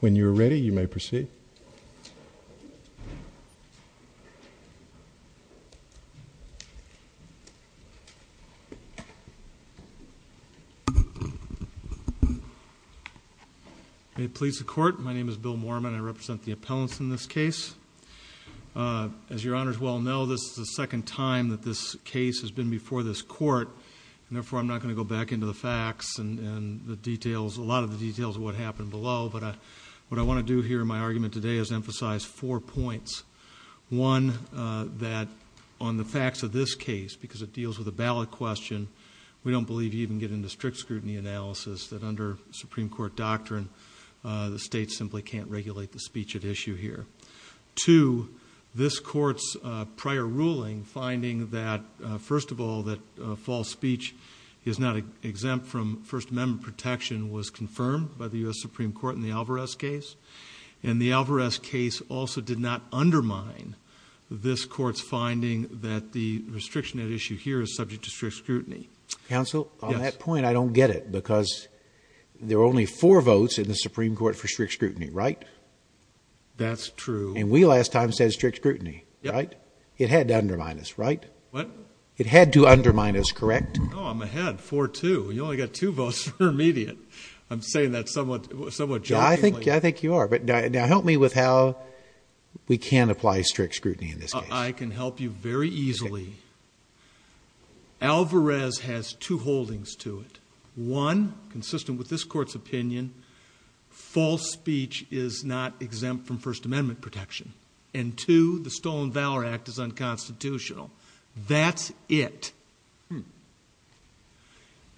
When you're ready, you may proceed. May it please the Court, my name is Bill Moorman. I represent the appellants in this case. As your Honors well know, this is the second time that this case has been before this Court, and therefore I'm not going to go back into the facts and a lot of the details of what happened below, but what I want to do here in my argument today is emphasize four points. One, that on the facts of this case, because it deals with a ballot question, we don't believe you even get into strict scrutiny analysis, that under Supreme Court doctrine the state simply can't regulate the speech at issue here. Two, this Court's prior ruling finding that, first of all, that false speech is not exempt from First Amendment protection was confirmed by the U.S. Supreme Court in the Alvarez case, and the Alvarez case also did not undermine this Court's finding that the restriction at issue here is subject to strict scrutiny. Counsel, on that point I don't get it, because there are only four votes in the Supreme Court for strict scrutiny, right? That's true. And we last time said strict scrutiny, right? Yep. It had to undermine us, right? What? It had to undermine us, correct? No, I'm ahead, 4-2. You only got two votes for immediate. I'm saying that somewhat jokingly. I think you are, but now help me with how we can apply strict scrutiny in this case. I can help you very easily. Alvarez has two holdings to it. One, consistent with this Court's opinion, false speech is not exempt from First Amendment protection. And two, the Stolen Valor Act is unconstitutional. That's it.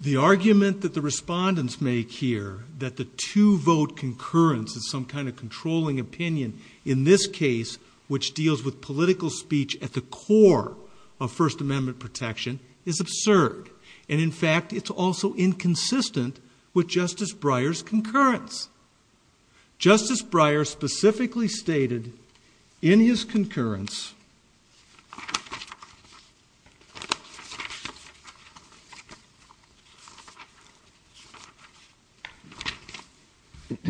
The argument that the respondents make here that the two-vote concurrence is some kind of controlling opinion in this case, which deals with political speech at the core of First Amendment protection, is absurd. And, in fact, it's also inconsistent with Justice Breyer's concurrence. Justice Breyer specifically stated in his concurrence,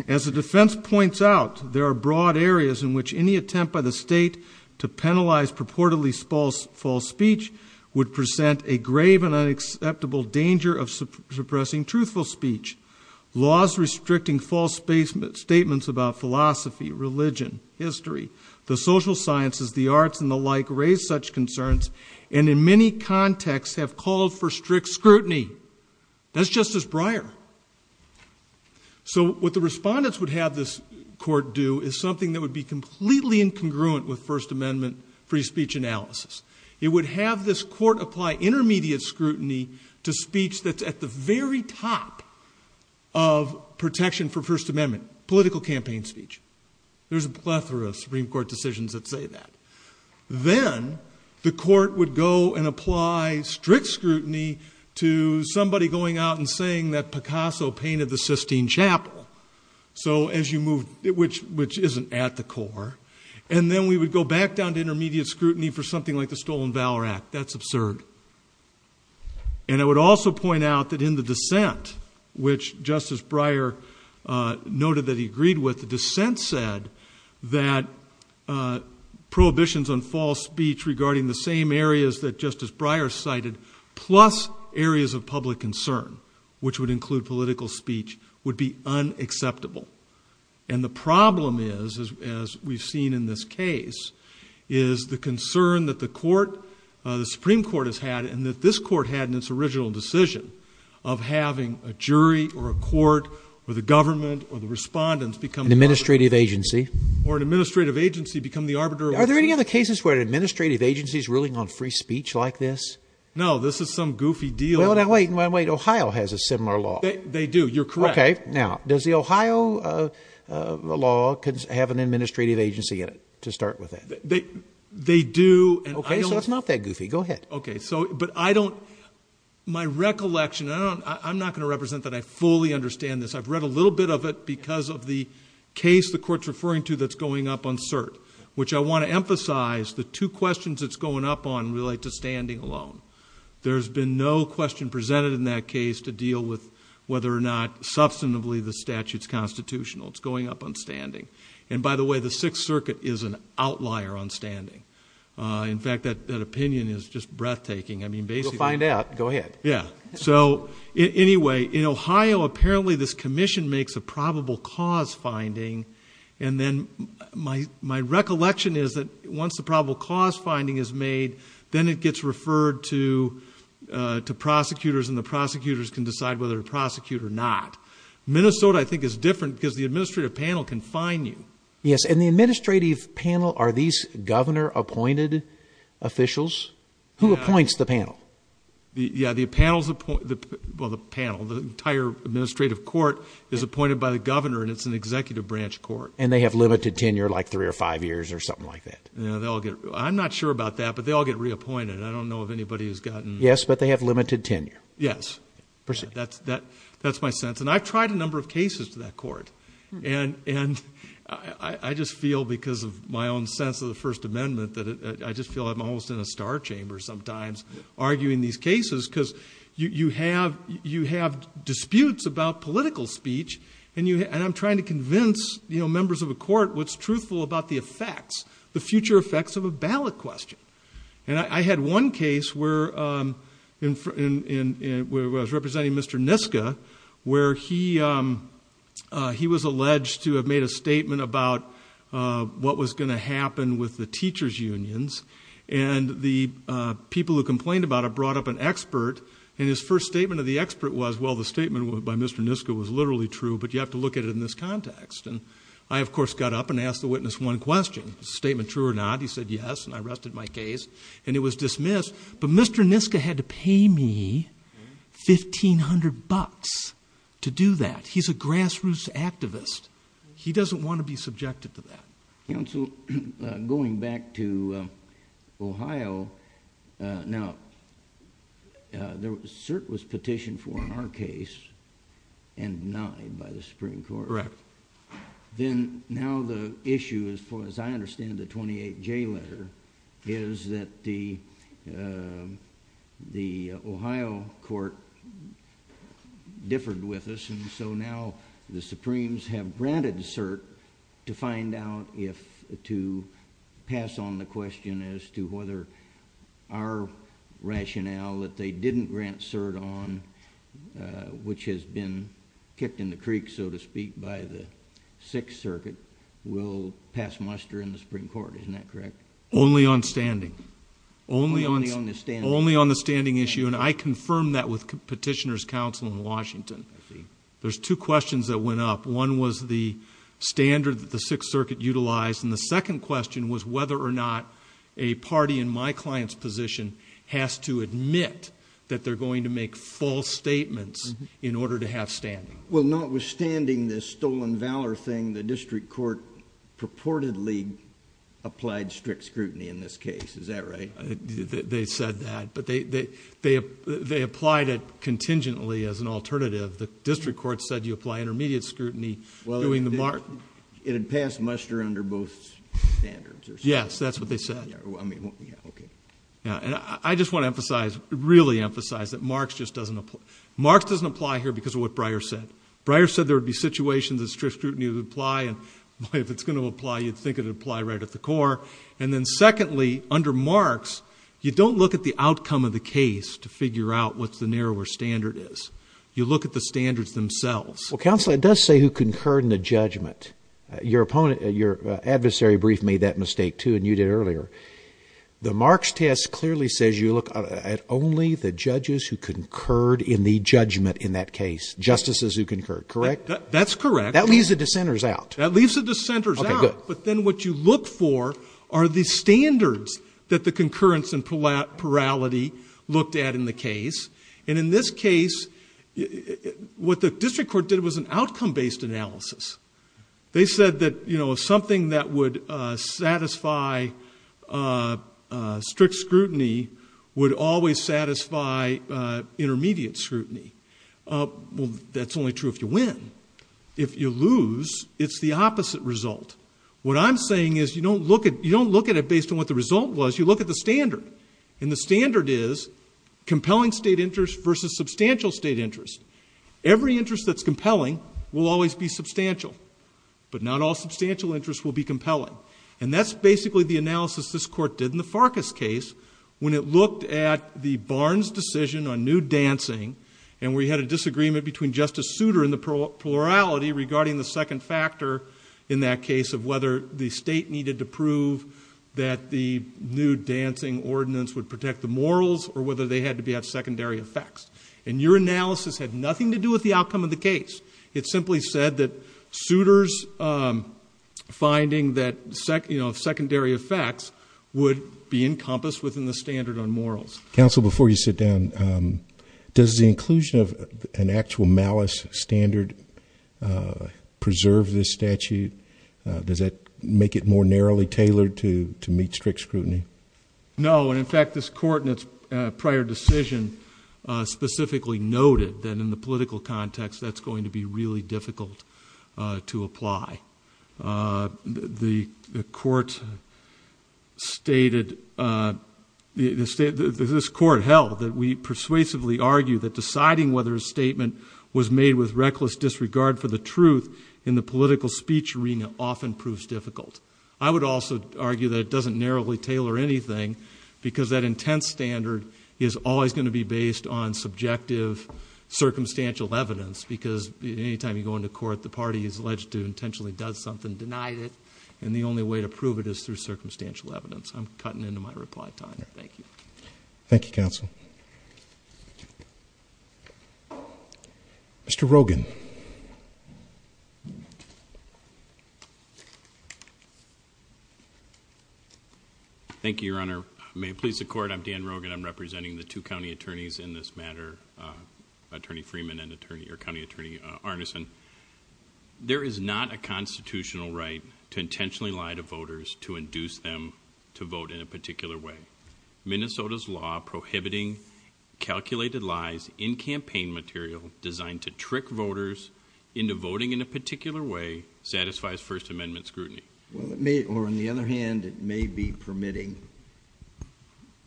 As the defense points out, there are broad areas in which any attempt by the State to penalize purportedly false speech would present a grave and unacceptable danger of suppressing truthful speech. Laws restricting false statements about philosophy, religion, history, the social sciences, the arts, and the like raise such concerns and in many contexts have called for strict scrutiny. That's Justice Breyer. So what the respondents would have this Court do is something that would be completely incongruent with First Amendment free speech analysis. It would have this Court apply intermediate scrutiny to speech that's at the very top of protection for First Amendment, political campaign speech. There's a plethora of Supreme Court decisions that say that. Then the Court would go and apply strict scrutiny to somebody going out and saying that Picasso painted the Sistine Chapel, which isn't at the core. And then we would go back down to intermediate scrutiny for something like the Stolen Valor Act. That's absurd. And I would also point out that in the dissent, which Justice Breyer noted that he agreed with, the dissent said that prohibitions on false speech regarding the same areas that Justice Breyer cited, plus areas of public concern, which would include political speech, would be unacceptable. And the problem is, as we've seen in this case, is the concern that the Supreme Court has had and that this Court had in its original decision of having a jury or a court or the government or the respondents become the arbiter. An administrative agency. Or an administrative agency become the arbiter. Are there any other cases where an administrative agency is ruling on free speech like this? No, this is some goofy deal. Now wait, Ohio has a similar law. They do, you're correct. Okay, now, does the Ohio law have an administrative agency in it, to start with that? They do. Okay, so it's not that goofy. Go ahead. Okay, so, but I don't, my recollection, I'm not going to represent that I fully understand this. I've read a little bit of it because of the case the Court's referring to that's going up on cert, which I want to emphasize the two questions it's going up on relate to standing alone. There's been no question presented in that case to deal with whether or not substantively the statute's constitutional. It's going up on standing. And by the way, the Sixth Circuit is an outlier on standing. In fact, that opinion is just breathtaking. We'll find out. Go ahead. Yeah. So, anyway, in Ohio, apparently this commission makes a probable cause finding, and then my recollection is that once the probable cause finding is made, then it gets referred to prosecutors, and the prosecutors can decide whether to prosecute or not. Minnesota, I think, is different because the administrative panel can find you. Yes, and the administrative panel, are these governor-appointed officials? Who appoints the panel? Yeah, the panel, the entire administrative court is appointed by the governor, and it's an executive branch court. And they have limited tenure, like three or five years or something like that? I'm not sure about that, but they all get reappointed. I don't know of anybody who's gotten. Yes, but they have limited tenure. Yes. That's my sense. And I've tried a number of cases to that court, and I just feel because of my own sense of the First Amendment that I just feel I'm almost in a star chamber sometimes arguing these cases because you have disputes about political speech, and I'm trying to convince members of a court what's truthful about the effects, the future effects of a ballot question. And I had one case where I was representing Mr. Niska, where he was alleged to have made a statement about what was going to happen with the teachers' unions, and the people who complained about it brought up an expert, and his first statement of the expert was, well, the statement by Mr. Niska was literally true, but you have to look at it in this context. And I, of course, got up and asked the witness one question, a statement true or not. He said yes, and I rested my case, and it was dismissed. But Mr. Niska had to pay me $1,500 to do that. He's a grassroots activist. He doesn't want to be subjected to that. Counsel, going back to Ohio, now, CERT was petitioned for in our case and denied by the Supreme Court. Correct. Then now the issue, as far as I understand the 28J letter, is that the Ohio court differed with us, and so now the Supremes have granted CERT to find out if to pass on the question as to whether our rationale that they didn't grant CERT on, which has been kicked in the creek, so to speak, by the Sixth Circuit, will pass muster in the Supreme Court. Isn't that correct? Only on standing. Only on the standing issue. And I confirmed that with petitioners' counsel in Washington. I see. There's two questions that went up. One was the standard that the Sixth Circuit utilized, and the second question was whether or not a party in my client's position has to admit that they're going to make false statements in order to have standing. Well, notwithstanding this stolen valor thing, the district court purportedly applied strict scrutiny in this case. Is that right? They said that. But they applied it contingently as an alternative. The district court said you apply intermediate scrutiny. It had passed muster under both standards. Yes, that's what they said. I just want to emphasize, really emphasize, that Marx just doesn't apply. Marx doesn't apply here because of what Breyer said. Breyer said there would be situations that strict scrutiny would apply, and if it's going to apply, you'd think it would apply right at the core. And then secondly, under Marx, you don't look at the outcome of the case to figure out what the narrower standard is. You look at the standards themselves. Well, counsel, it does say who concurred in the judgment. Your adversary brief made that mistake, too, and you did earlier. The Marx test clearly says you look at only the judges who concurred in the judgment in that case, justices who concurred. Correct? That's correct. That leaves the dissenters out. That leaves the dissenters out. Okay, good. But then what you look for are the standards that the concurrence and plurality looked at in the case. And in this case, what the district court did was an outcome-based analysis. They said that something that would satisfy strict scrutiny would always satisfy intermediate scrutiny. Well, that's only true if you win. If you lose, it's the opposite result. What I'm saying is you don't look at it based on what the result was. You look at the standard, and the standard is compelling state interest versus substantial state interest. Every interest that's compelling will always be substantial, but not all substantial interests will be compelling. And that's basically the analysis this court did in the Farkas case when it looked at the Barnes decision on nude dancing and we had a disagreement between Justice Souter and the plurality regarding the second factor in that case of whether the state needed to prove that the nude dancing ordinance would protect the morals or whether they had to be at secondary effects. And your analysis had nothing to do with the outcome of the case. It simply said that Souter's finding that secondary effects would be encompassed within the standard on morals. Counsel, before you sit down, does the inclusion of an actual malice standard preserve this statute? Does that make it more narrowly tailored to meet strict scrutiny? No, and, in fact, this court in its prior decision specifically noted that in the political context, that's going to be really difficult to apply. The court stated, this court held that we persuasively argue that deciding whether a statement was made with reckless disregard for the truth in the political speech arena often proves difficult. I would also argue that it doesn't narrowly tailor anything because that intense standard is always going to be based on subjective, circumstantial evidence because any time you go into court, the party is alleged to have intentionally done something, denied it, and the only way to prove it is through circumstantial evidence. I'm cutting into my reply time. Thank you. Thank you, Counsel. Mr. Rogin. Thank you, Your Honor. May it please the Court, I'm Dan Rogin. I'm representing the two county attorneys in this matter, Attorney Freeman and County Attorney Arneson. There is not a constitutional right to intentionally lie to voters to induce them to vote in a particular way. Minnesota's law prohibiting calculated lies in campaign material designed to trick voters into voting in a particular way satisfies First Amendment scrutiny. Well, it may, or on the other hand, it may be permitting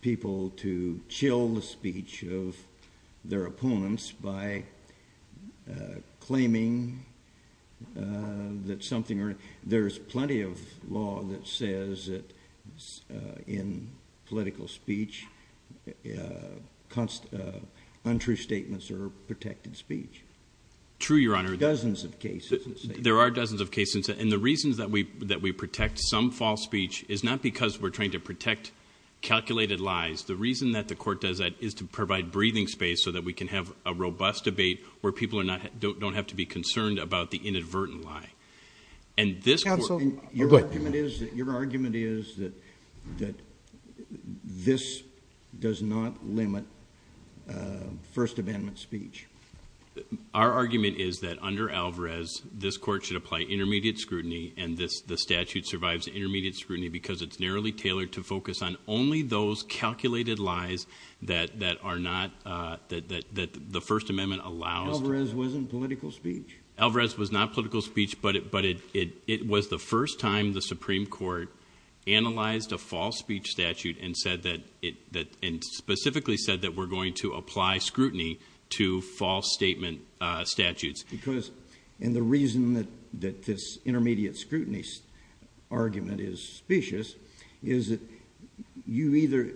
people to chill the speech of their opponents by claiming that something, or there's plenty of law that says that in political speech, untrue statements are protected speech. True, Your Honor. There are dozens of cases. There are dozens of cases, and the reasons that we protect some false speech is not because we're trying to protect calculated lies. The reason that the Court does that is to provide breathing space so that we can have a robust debate where people don't have to be concerned about the inadvertent lie. Counsel, your argument is that this does not limit First Amendment speech. Our argument is that under Alvarez, this Court should apply intermediate scrutiny, and the statute survives intermediate scrutiny because it's narrowly tailored to focus on only those calculated lies that are not, that the First Amendment allows. Alvarez wasn't political speech. Alvarez was not political speech, but it was the first time the Supreme Court analyzed a false speech statute and said that, and specifically said that we're going to apply scrutiny to false statement statutes. Because, and the reason that this intermediate scrutiny argument is specious is that you either,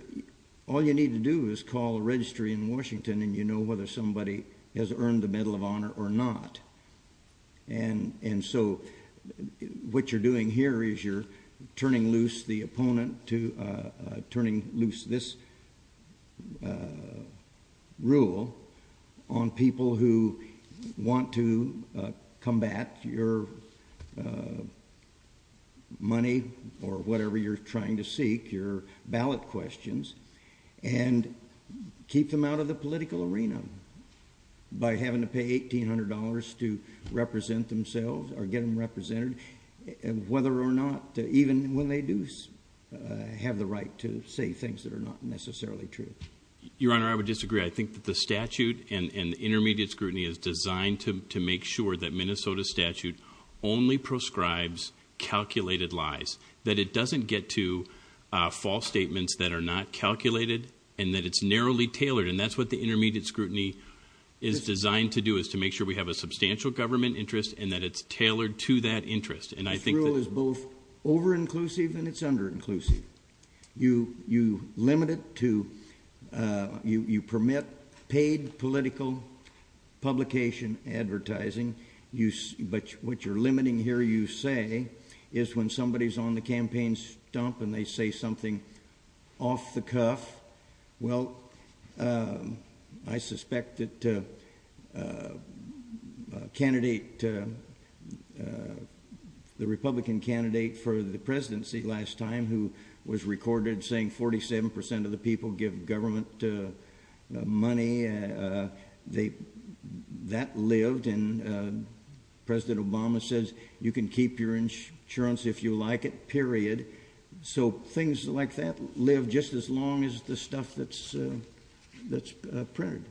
all you need to do is call a registry in Washington and you know whether somebody has earned the Medal of Honor or not. And so what you're doing here is you're turning loose the opponent, turning loose this rule on people who want to combat your money or whatever you're trying to seek, your ballot questions, and keep them out of the political arena by having to pay $1,800 to represent themselves or get them represented, whether or not, even when they do have the right to say things that are not necessarily true. Your Honor, I would disagree. I think that the statute and intermediate scrutiny is designed to make sure that Minnesota statute only proscribes calculated lies, that it doesn't get to false statements that are not calculated, and that it's narrowly tailored. And that's what the intermediate scrutiny is designed to do, is to make sure we have a substantial government interest and that it's tailored to that interest. This rule is both over-inclusive and it's under-inclusive. You limit it to, you permit paid political publication, advertising, but what you're limiting here, you say, is when somebody's on the campaign stump and they say something off the cuff. Well, I suspect that the Republican candidate for the presidency last time, who was recorded saying 47% of the people give government money, that lived, and President Obama says you can keep your insurance if you like it, period. So things like that live just as long as the stuff that's printed.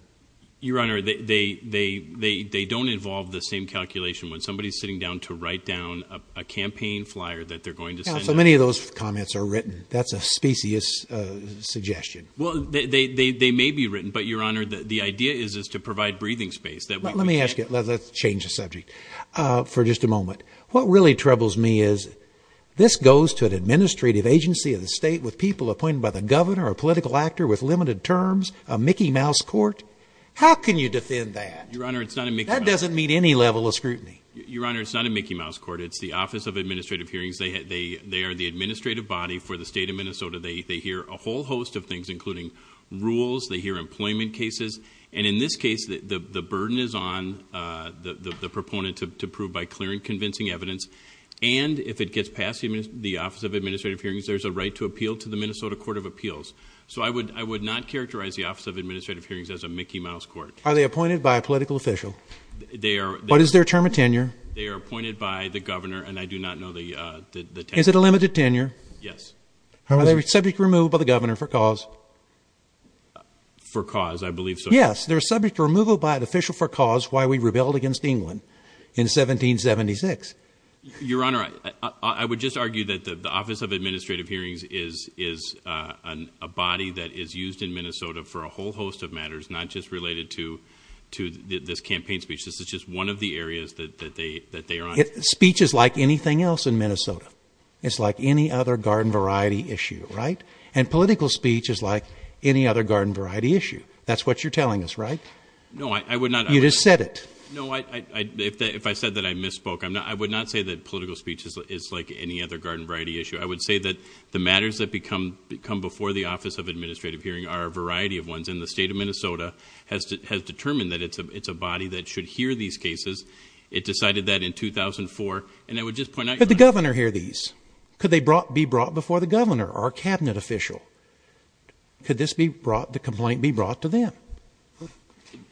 Your Honor, they don't involve the same calculation when somebody's sitting down to write down a campaign flyer that they're going to send out. Yeah, so many of those comments are written. That's a specious suggestion. Well, they may be written, but, Your Honor, the idea is to provide breathing space. Let me ask you, let's change the subject for just a moment. What really troubles me is this goes to an administrative agency of the state with people appointed by the governor, a political actor with limited terms, a Mickey Mouse court. How can you defend that? Your Honor, it's not a Mickey Mouse court. That doesn't meet any level of scrutiny. Your Honor, it's not a Mickey Mouse court. It's the Office of Administrative Hearings. They are the administrative body for the state of Minnesota. They hear a whole host of things, including rules. They hear employment cases. And in this case, the burden is on the proponent to prove by clear and convincing evidence. And if it gets past the Office of Administrative Hearings, there's a right to appeal to the Minnesota Court of Appeals. So I would not characterize the Office of Administrative Hearings as a Mickey Mouse court. Are they appointed by a political official? They are. What is their term of tenure? They are appointed by the governor, and I do not know the tenure. Is it a limited tenure? Yes. Are they subject to removal by the governor for cause? For cause, I believe so. Yes, they're subject to removal by an official for cause, why we rebelled against England in 1776. Your Honor, I would just argue that the Office of Administrative Hearings is a body that is used in Minnesota for a whole host of matters, not just related to this campaign speech. This is just one of the areas that they are on. Speech is like anything else in Minnesota. It's like any other garden variety issue, right? And political speech is like any other garden variety issue. That's what you're telling us, right? No, I would not. You just said it. No, if I said that I misspoke, I would not say that political speech is like any other garden variety issue. I would say that the matters that come before the Office of Administrative Hearings are a variety of ones, and the state of Minnesota has determined that it's a body that should hear these cases. It decided that in 2004, and I would just point out your Honor. The governor heard these. Could they be brought before the governor or a cabinet official? Could the complaint be brought to them?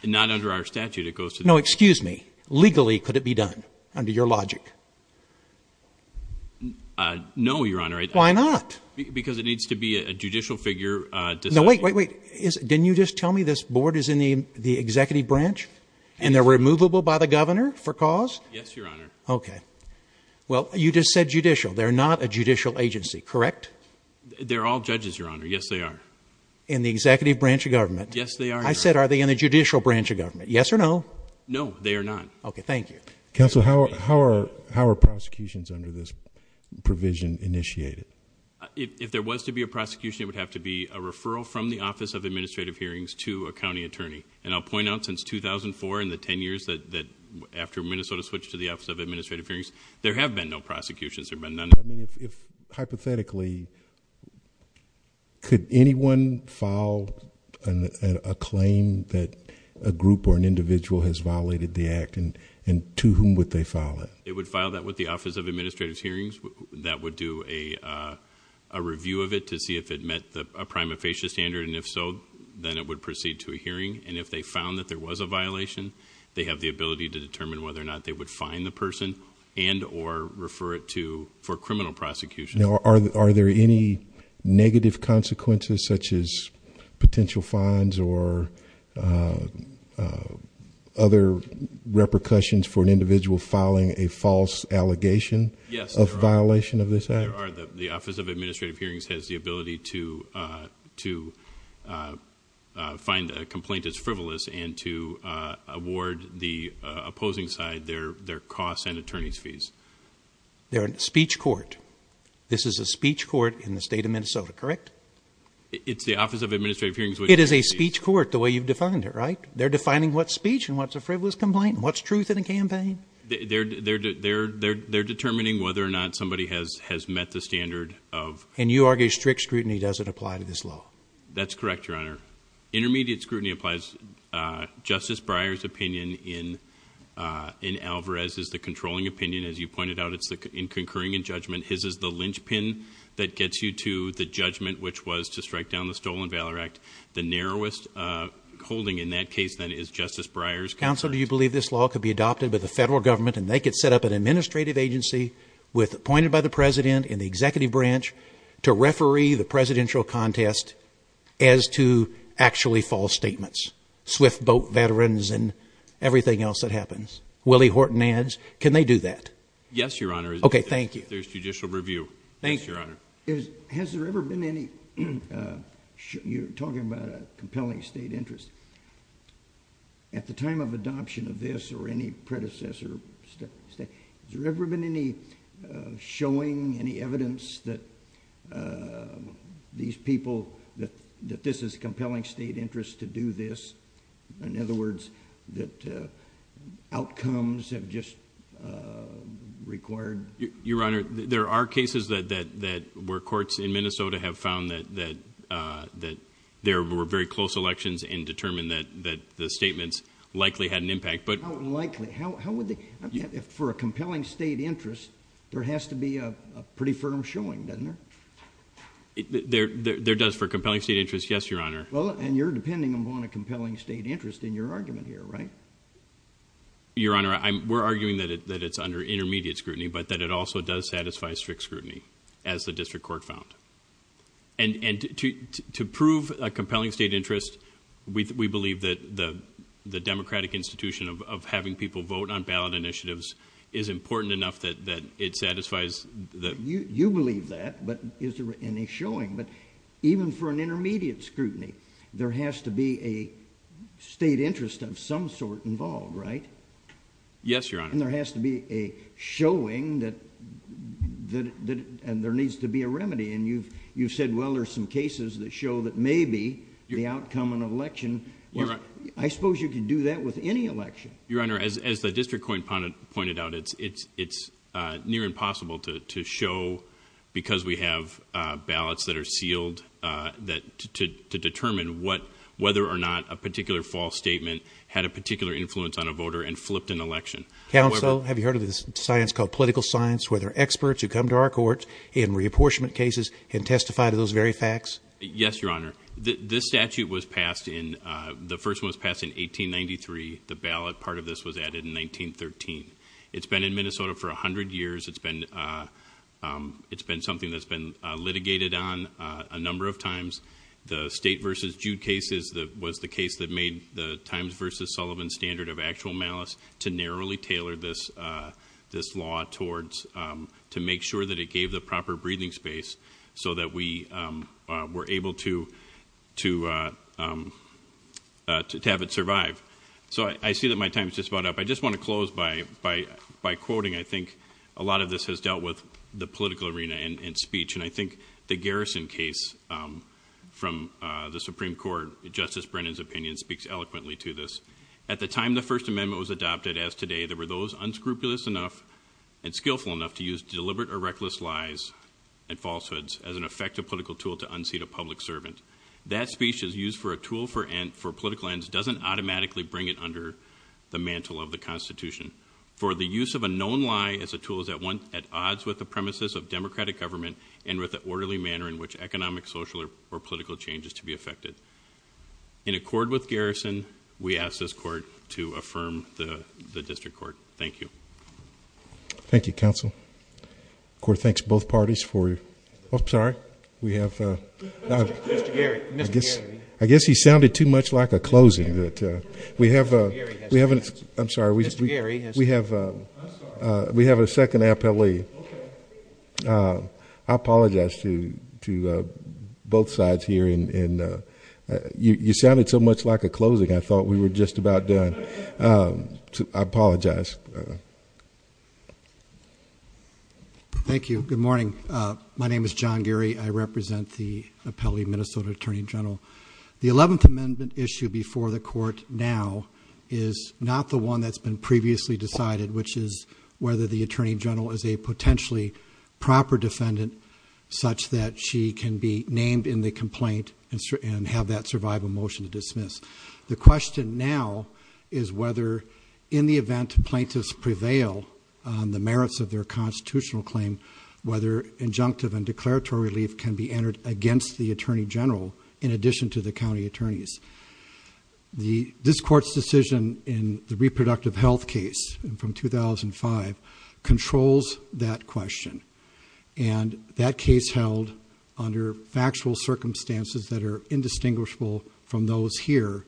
Not under our statute. No, excuse me. Legally, could it be done under your logic? No, Your Honor. Why not? Because it needs to be a judicial figure. No, wait, wait, wait. Didn't you just tell me this board is in the executive branch, and they're removable by the governor for cause? Yes, Your Honor. Okay. Well, you just said judicial. They're not a judicial agency, correct? They're all judges, Your Honor. Yes, they are. In the executive branch of government? Yes, they are, Your Honor. I said are they in the judicial branch of government? Yes or no? No, they are not. Okay, thank you. Counsel, how are prosecutions under this provision initiated? If there was to be a prosecution, it would have to be a referral from the Office of Administrative Hearings to a county attorney. And I'll point out, since 2004, in the 10 years after Minnesota switched to the Office of Administrative Hearings, there have been no prosecutions. There have been none. Hypothetically, could anyone file a claim that a group or an individual has violated the act, and to whom would they file it? They would file that with the Office of Administrative Hearings. That would do a review of it to see if it met a prima facie standard, and if so, then it would proceed to a hearing. And if they found that there was a violation, they have the ability to determine whether or not they would fine the person and or refer it to for criminal prosecution. Now, are there any negative consequences, such as potential fines or other repercussions for an individual filing a false allegation of violation? There are. The Office of Administrative Hearings has the ability to find a complaint that's frivolous and to award the opposing side their costs and attorney's fees. They're a speech court. This is a speech court in the state of Minnesota, correct? It's the Office of Administrative Hearings. It is a speech court, the way you've defined it, right? They're defining what's speech and what's a frivolous complaint and what's truth in a campaign. They're determining whether or not somebody has met the standard. And you argue strict scrutiny doesn't apply to this law? That's correct, Your Honor. Intermediate scrutiny applies. Justice Breyer's opinion in Alvarez is the controlling opinion, as you pointed out. It's concurring in judgment. His is the linchpin that gets you to the judgment, which was to strike down the Stolen Valor Act. The narrowest holding in that case, then, is Justice Breyer's. Counsel, do you believe this law could be adopted by the federal government and they could set up an administrative agency appointed by the president and the executive branch to referee the presidential contest as to actually false statements, swift boat veterans and everything else that happens? Willie Horton adds, can they do that? Yes, Your Honor. Okay, thank you. There's judicial review. Thank you. Yes, Your Honor. Has there ever been any—you're talking about a compelling state interest. At the time of adoption of this or any predecessor, has there ever been any showing, any evidence that these people, that this is a compelling state interest to do this? In other words, that outcomes have just required— Your Honor, there are cases where courts in Minnesota have found that there were very close elections and determined that the statements likely had an impact. How likely? For a compelling state interest, there has to be a pretty firm showing, doesn't there? There does. For a compelling state interest, yes, Your Honor. Well, and you're depending upon a compelling state interest in your argument here, right? Your Honor, we're arguing that it's under intermediate scrutiny, but that it also does satisfy strict scrutiny, as the district court found. And to prove a compelling state interest, we believe that the democratic institution of having people vote on ballot initiatives is important enough that it satisfies the— You believe that, but is there any showing? But even for an intermediate scrutiny, there has to be a state interest of some sort involved, right? Yes, Your Honor. And there has to be a showing that—and there needs to be a remedy. And you've said, well, there's some cases that show that maybe the outcome of an election— Well, I— I suppose you could do that with any election. Your Honor, as the district court pointed out, it's near impossible to show, because we have ballots that are sealed, to determine whether or not a particular false statement had a particular influence on a voter and flipped an election. Counsel, have you heard of this science called political science, where there are experts who come to our courts in reapportionment cases and testify to those very facts? Yes, Your Honor. This statute was passed in—the first one was passed in 1893. The ballot part of this was added in 1913. It's been in Minnesota for 100 years. It's been something that's been litigated on a number of times. The State v. Jude case was the case that made the Times v. Sullivan standard of actual malice to narrowly tailor this law towards—to make sure that it gave the proper breathing space so that we were able to have it survive. So I see that my time's just about up. I just want to close by quoting. I think a lot of this has dealt with the political arena and speech, and I think the Garrison case from the Supreme Court, Justice Brennan's opinion, speaks eloquently to this. At the time the First Amendment was adopted, as today, there were those unscrupulous enough and skillful enough to use deliberate or reckless lies and falsehoods as an effective political tool to unseat a public servant. That speech is used for a tool for political ends, doesn't automatically bring it under the mantle of the Constitution. For the use of a known lie as a tool is at odds with the premises of democratic government and with the orderly manner in which economic, social, or political change is to be effected. In accord with Garrison, we ask this court to affirm the district court. Thank you. Thank you, counsel. The court thanks both parties for—I'm sorry. We have— Mr. Geary. Mr. Geary. I guess he sounded too much like a closing. We have a— Mr. Geary has— I'm sorry. Mr. Geary has— We have a second appellee. Okay. I apologize to both sides here. You sounded too much like a closing. I thought we were just about done. I apologize. Thank you. Good morning. My name is John Geary. I represent the appellee, Minnesota Attorney General. The 11th Amendment issue before the court now is not the one that's been previously decided, which is whether the attorney general is a potentially proper defendant such that she can be named in the complaint and have that survival motion to dismiss. The question now is whether in the event plaintiffs prevail on the merits of their constitutional claim, whether injunctive and declaratory relief can be entered against the attorney general in addition to the county attorneys. This court's decision in the reproductive health case from 2005 controls that question. That case held under factual circumstances that are indistinguishable from those here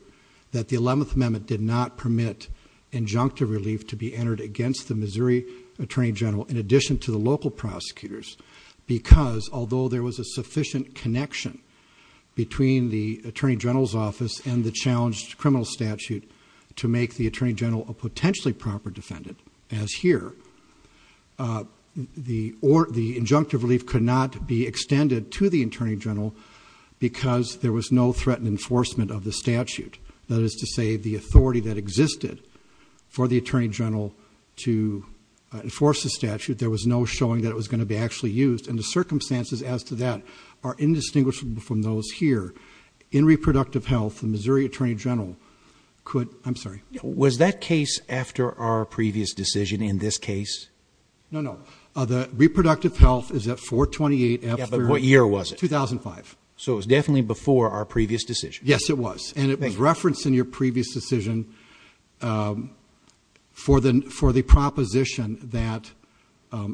that the 11th Amendment did not permit injunctive relief to be entered against the Missouri Attorney General in addition to the local prosecutors because although there was a sufficient connection between the attorney general's office and the challenged criminal statute to make the attorney general a potentially proper defendant, as here, the injunctive relief could not be extended to the attorney general because there was no threat and enforcement of the statute. That is to say, the authority that existed for the attorney general to enforce the statute, there was no showing that it was going to be actually used. And the circumstances as to that are indistinguishable from those here. In reproductive health, the Missouri Attorney General could, I'm sorry. Was that case after our previous decision in this case? No, no. The reproductive health is at 428. But what year was it? 2005. So it was definitely before our previous decision. Yes, it was. And it was referenced in your previous decision for the proposition that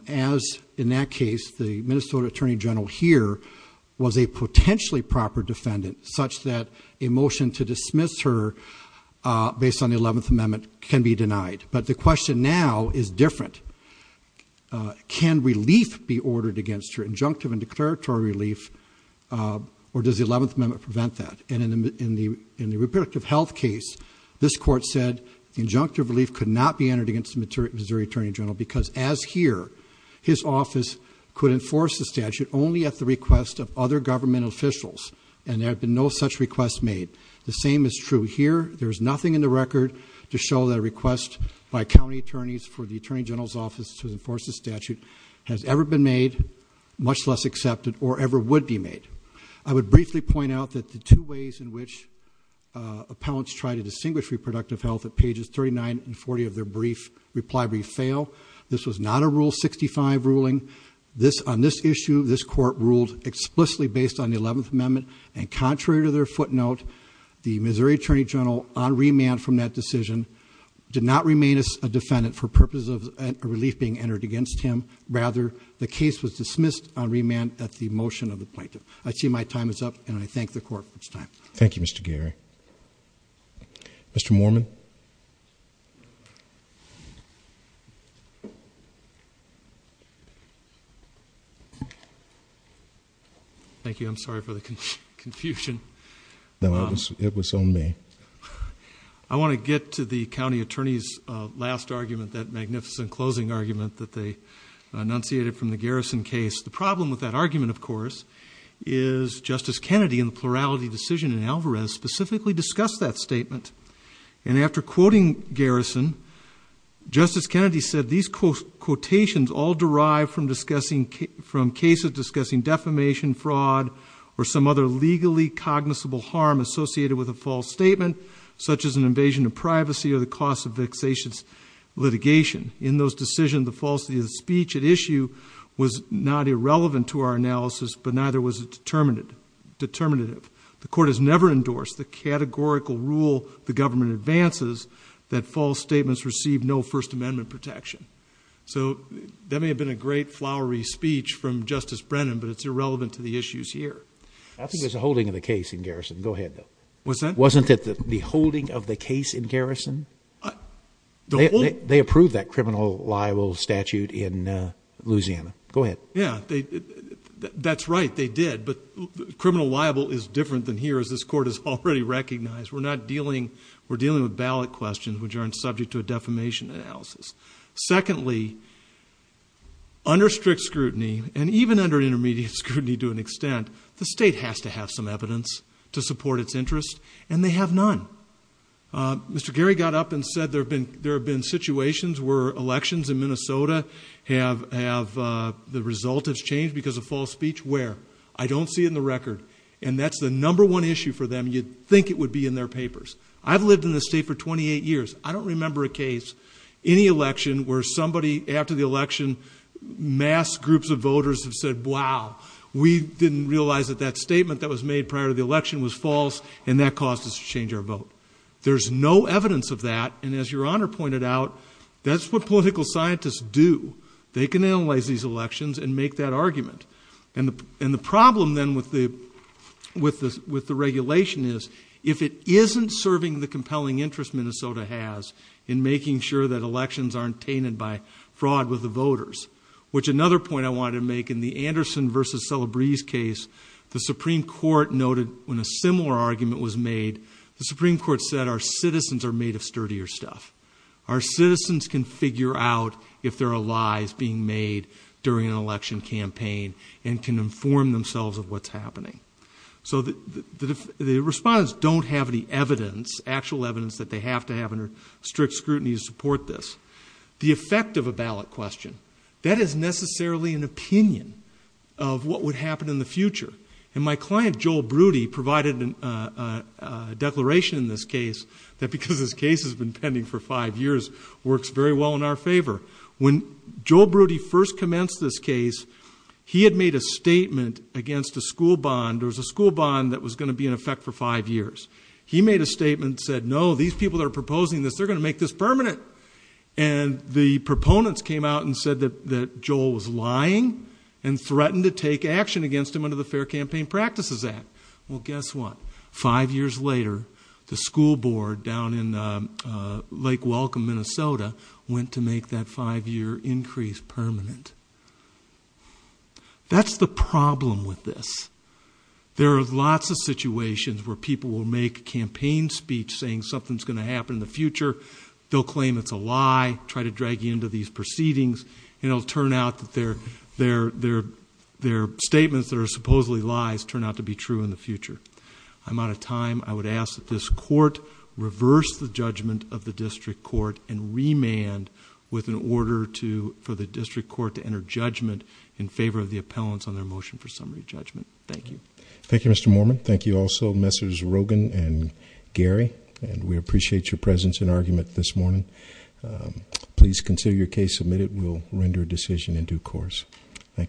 as in that case, the Minnesota Attorney General here was a potentially proper defendant such that a motion to dismiss her based on the 11th Amendment can be denied. But the question now is different. Can relief be ordered against her, injunctive and declaratory relief, or does the 11th Amendment prevent that? And in the reproductive health case, this court said the injunctive relief could not be entered against the Missouri Attorney General because as here, his office could enforce the statute only at the request of other government officials, and there have been no such requests made. The same is true here. There's nothing in the record to show that a request by county attorneys for the Attorney General's office to enforce the statute has ever been made, much less accepted, or ever would be made. I would briefly point out that the two ways in which appellants try to distinguish reproductive health at pages 39 and 40 of their reply brief fail. This was not a Rule 65 ruling. On this issue, this court ruled explicitly based on the 11th Amendment, and contrary to their footnote, the Missouri Attorney General, on remand from that decision, did not remain a defendant for purposes of a relief being entered against him. Rather, the case was dismissed on remand at the motion of the plaintiff. I see my time is up, and I thank the court for its time. Thank you, Mr. Geary. Mr. Moorman. Thank you. I'm sorry for the confusion. No, it was on me. I want to get to the county attorney's last argument, that magnificent closing argument that they enunciated from the Garrison case. The problem with that argument, of course, is Justice Kennedy, in the plurality decision in Alvarez, specifically discussed that statement. And after quoting Garrison, Justice Kennedy said, these quotations all derive from cases discussing defamation, fraud, or some other legally cognizable harm associated with a false statement, such as an invasion of privacy or the cost of vexation litigation. In those decisions, the falsity of the speech at issue was not irrelevant to our analysis, but neither was it determinative. The court has never endorsed the categorical rule the government advances that false statements receive no First Amendment protection. So that may have been a great flowery speech from Justice Brennan, but it's irrelevant to the issues here. I think there's a holding of the case in Garrison. Go ahead. What's that? Wasn't it the holding of the case in Garrison? They approved that criminal libel statute in Louisiana. Go ahead. Yeah, that's right, they did. But criminal libel is different than here, as this court has already recognized. We're dealing with ballot questions, which aren't subject to a defamation analysis. Secondly, under strict scrutiny, and even under intermediate scrutiny to an extent, the state has to have some evidence to support its interests, and they have none. Mr. Gary got up and said there have been situations where elections in Minnesota have the result has changed because of false speech. Where? I don't see it in the record, and that's the number one issue for them. You'd think it would be in their papers. I've lived in this state for 28 years. I don't remember a case, any election, where somebody after the election, mass groups of voters have said, wow, we didn't realize that that statement that was made prior to the election was false, and that caused us to change our vote. There's no evidence of that, and as Your Honor pointed out, that's what political scientists do. They can analyze these elections and make that argument. And the problem then with the regulation is, if it isn't serving the compelling interest Minnesota has in making sure that elections aren't tainted by fraud with the voters, which another point I wanted to make, in the Anderson v. Celebreze case, the Supreme Court noted when a similar argument was made, the Supreme Court said our citizens are made of sturdier stuff. Our citizens can figure out if there are lies being made during an election campaign and can inform themselves of what's happening. So the respondents don't have any evidence, actual evidence that they have to have under strict scrutiny to support this. The effect of a ballot question, that is necessarily an opinion of what would happen in the future. And my client, Joel Broody, provided a declaration in this case that because this case has been pending for five years, works very well in our favor. When Joel Broody first commenced this case, he had made a statement against a school bond. There was a school bond that was going to be in effect for five years. He made a statement and said, no, these people that are proposing this, they're going to make this permanent. And the proponents came out and said that Joel was lying and threatened to take action against him under the Fair Campaign Practices Act. Well, guess what? Five years later, the school board down in Lake Welcome, Minnesota, went to make that five-year increase permanent. That's the problem with this. There are lots of situations where people will make campaign speech saying something's going to happen in the future. They'll claim it's a lie, try to drag you into these proceedings, and it'll turn out that their statements that are supposedly lies turn out to be true in the future. I'm out of time. I would ask that this court reverse the judgment of the district court and remand with an order for the district court to enter judgment in favor of the appellants on their motion for summary judgment. Thank you. Thank you, Mr. Mormon. Thank you also, Messrs. Rogan and Gary. And we appreciate your presence and argument this morning. Please consider your case submitted. We'll render a decision in due course. Thank you.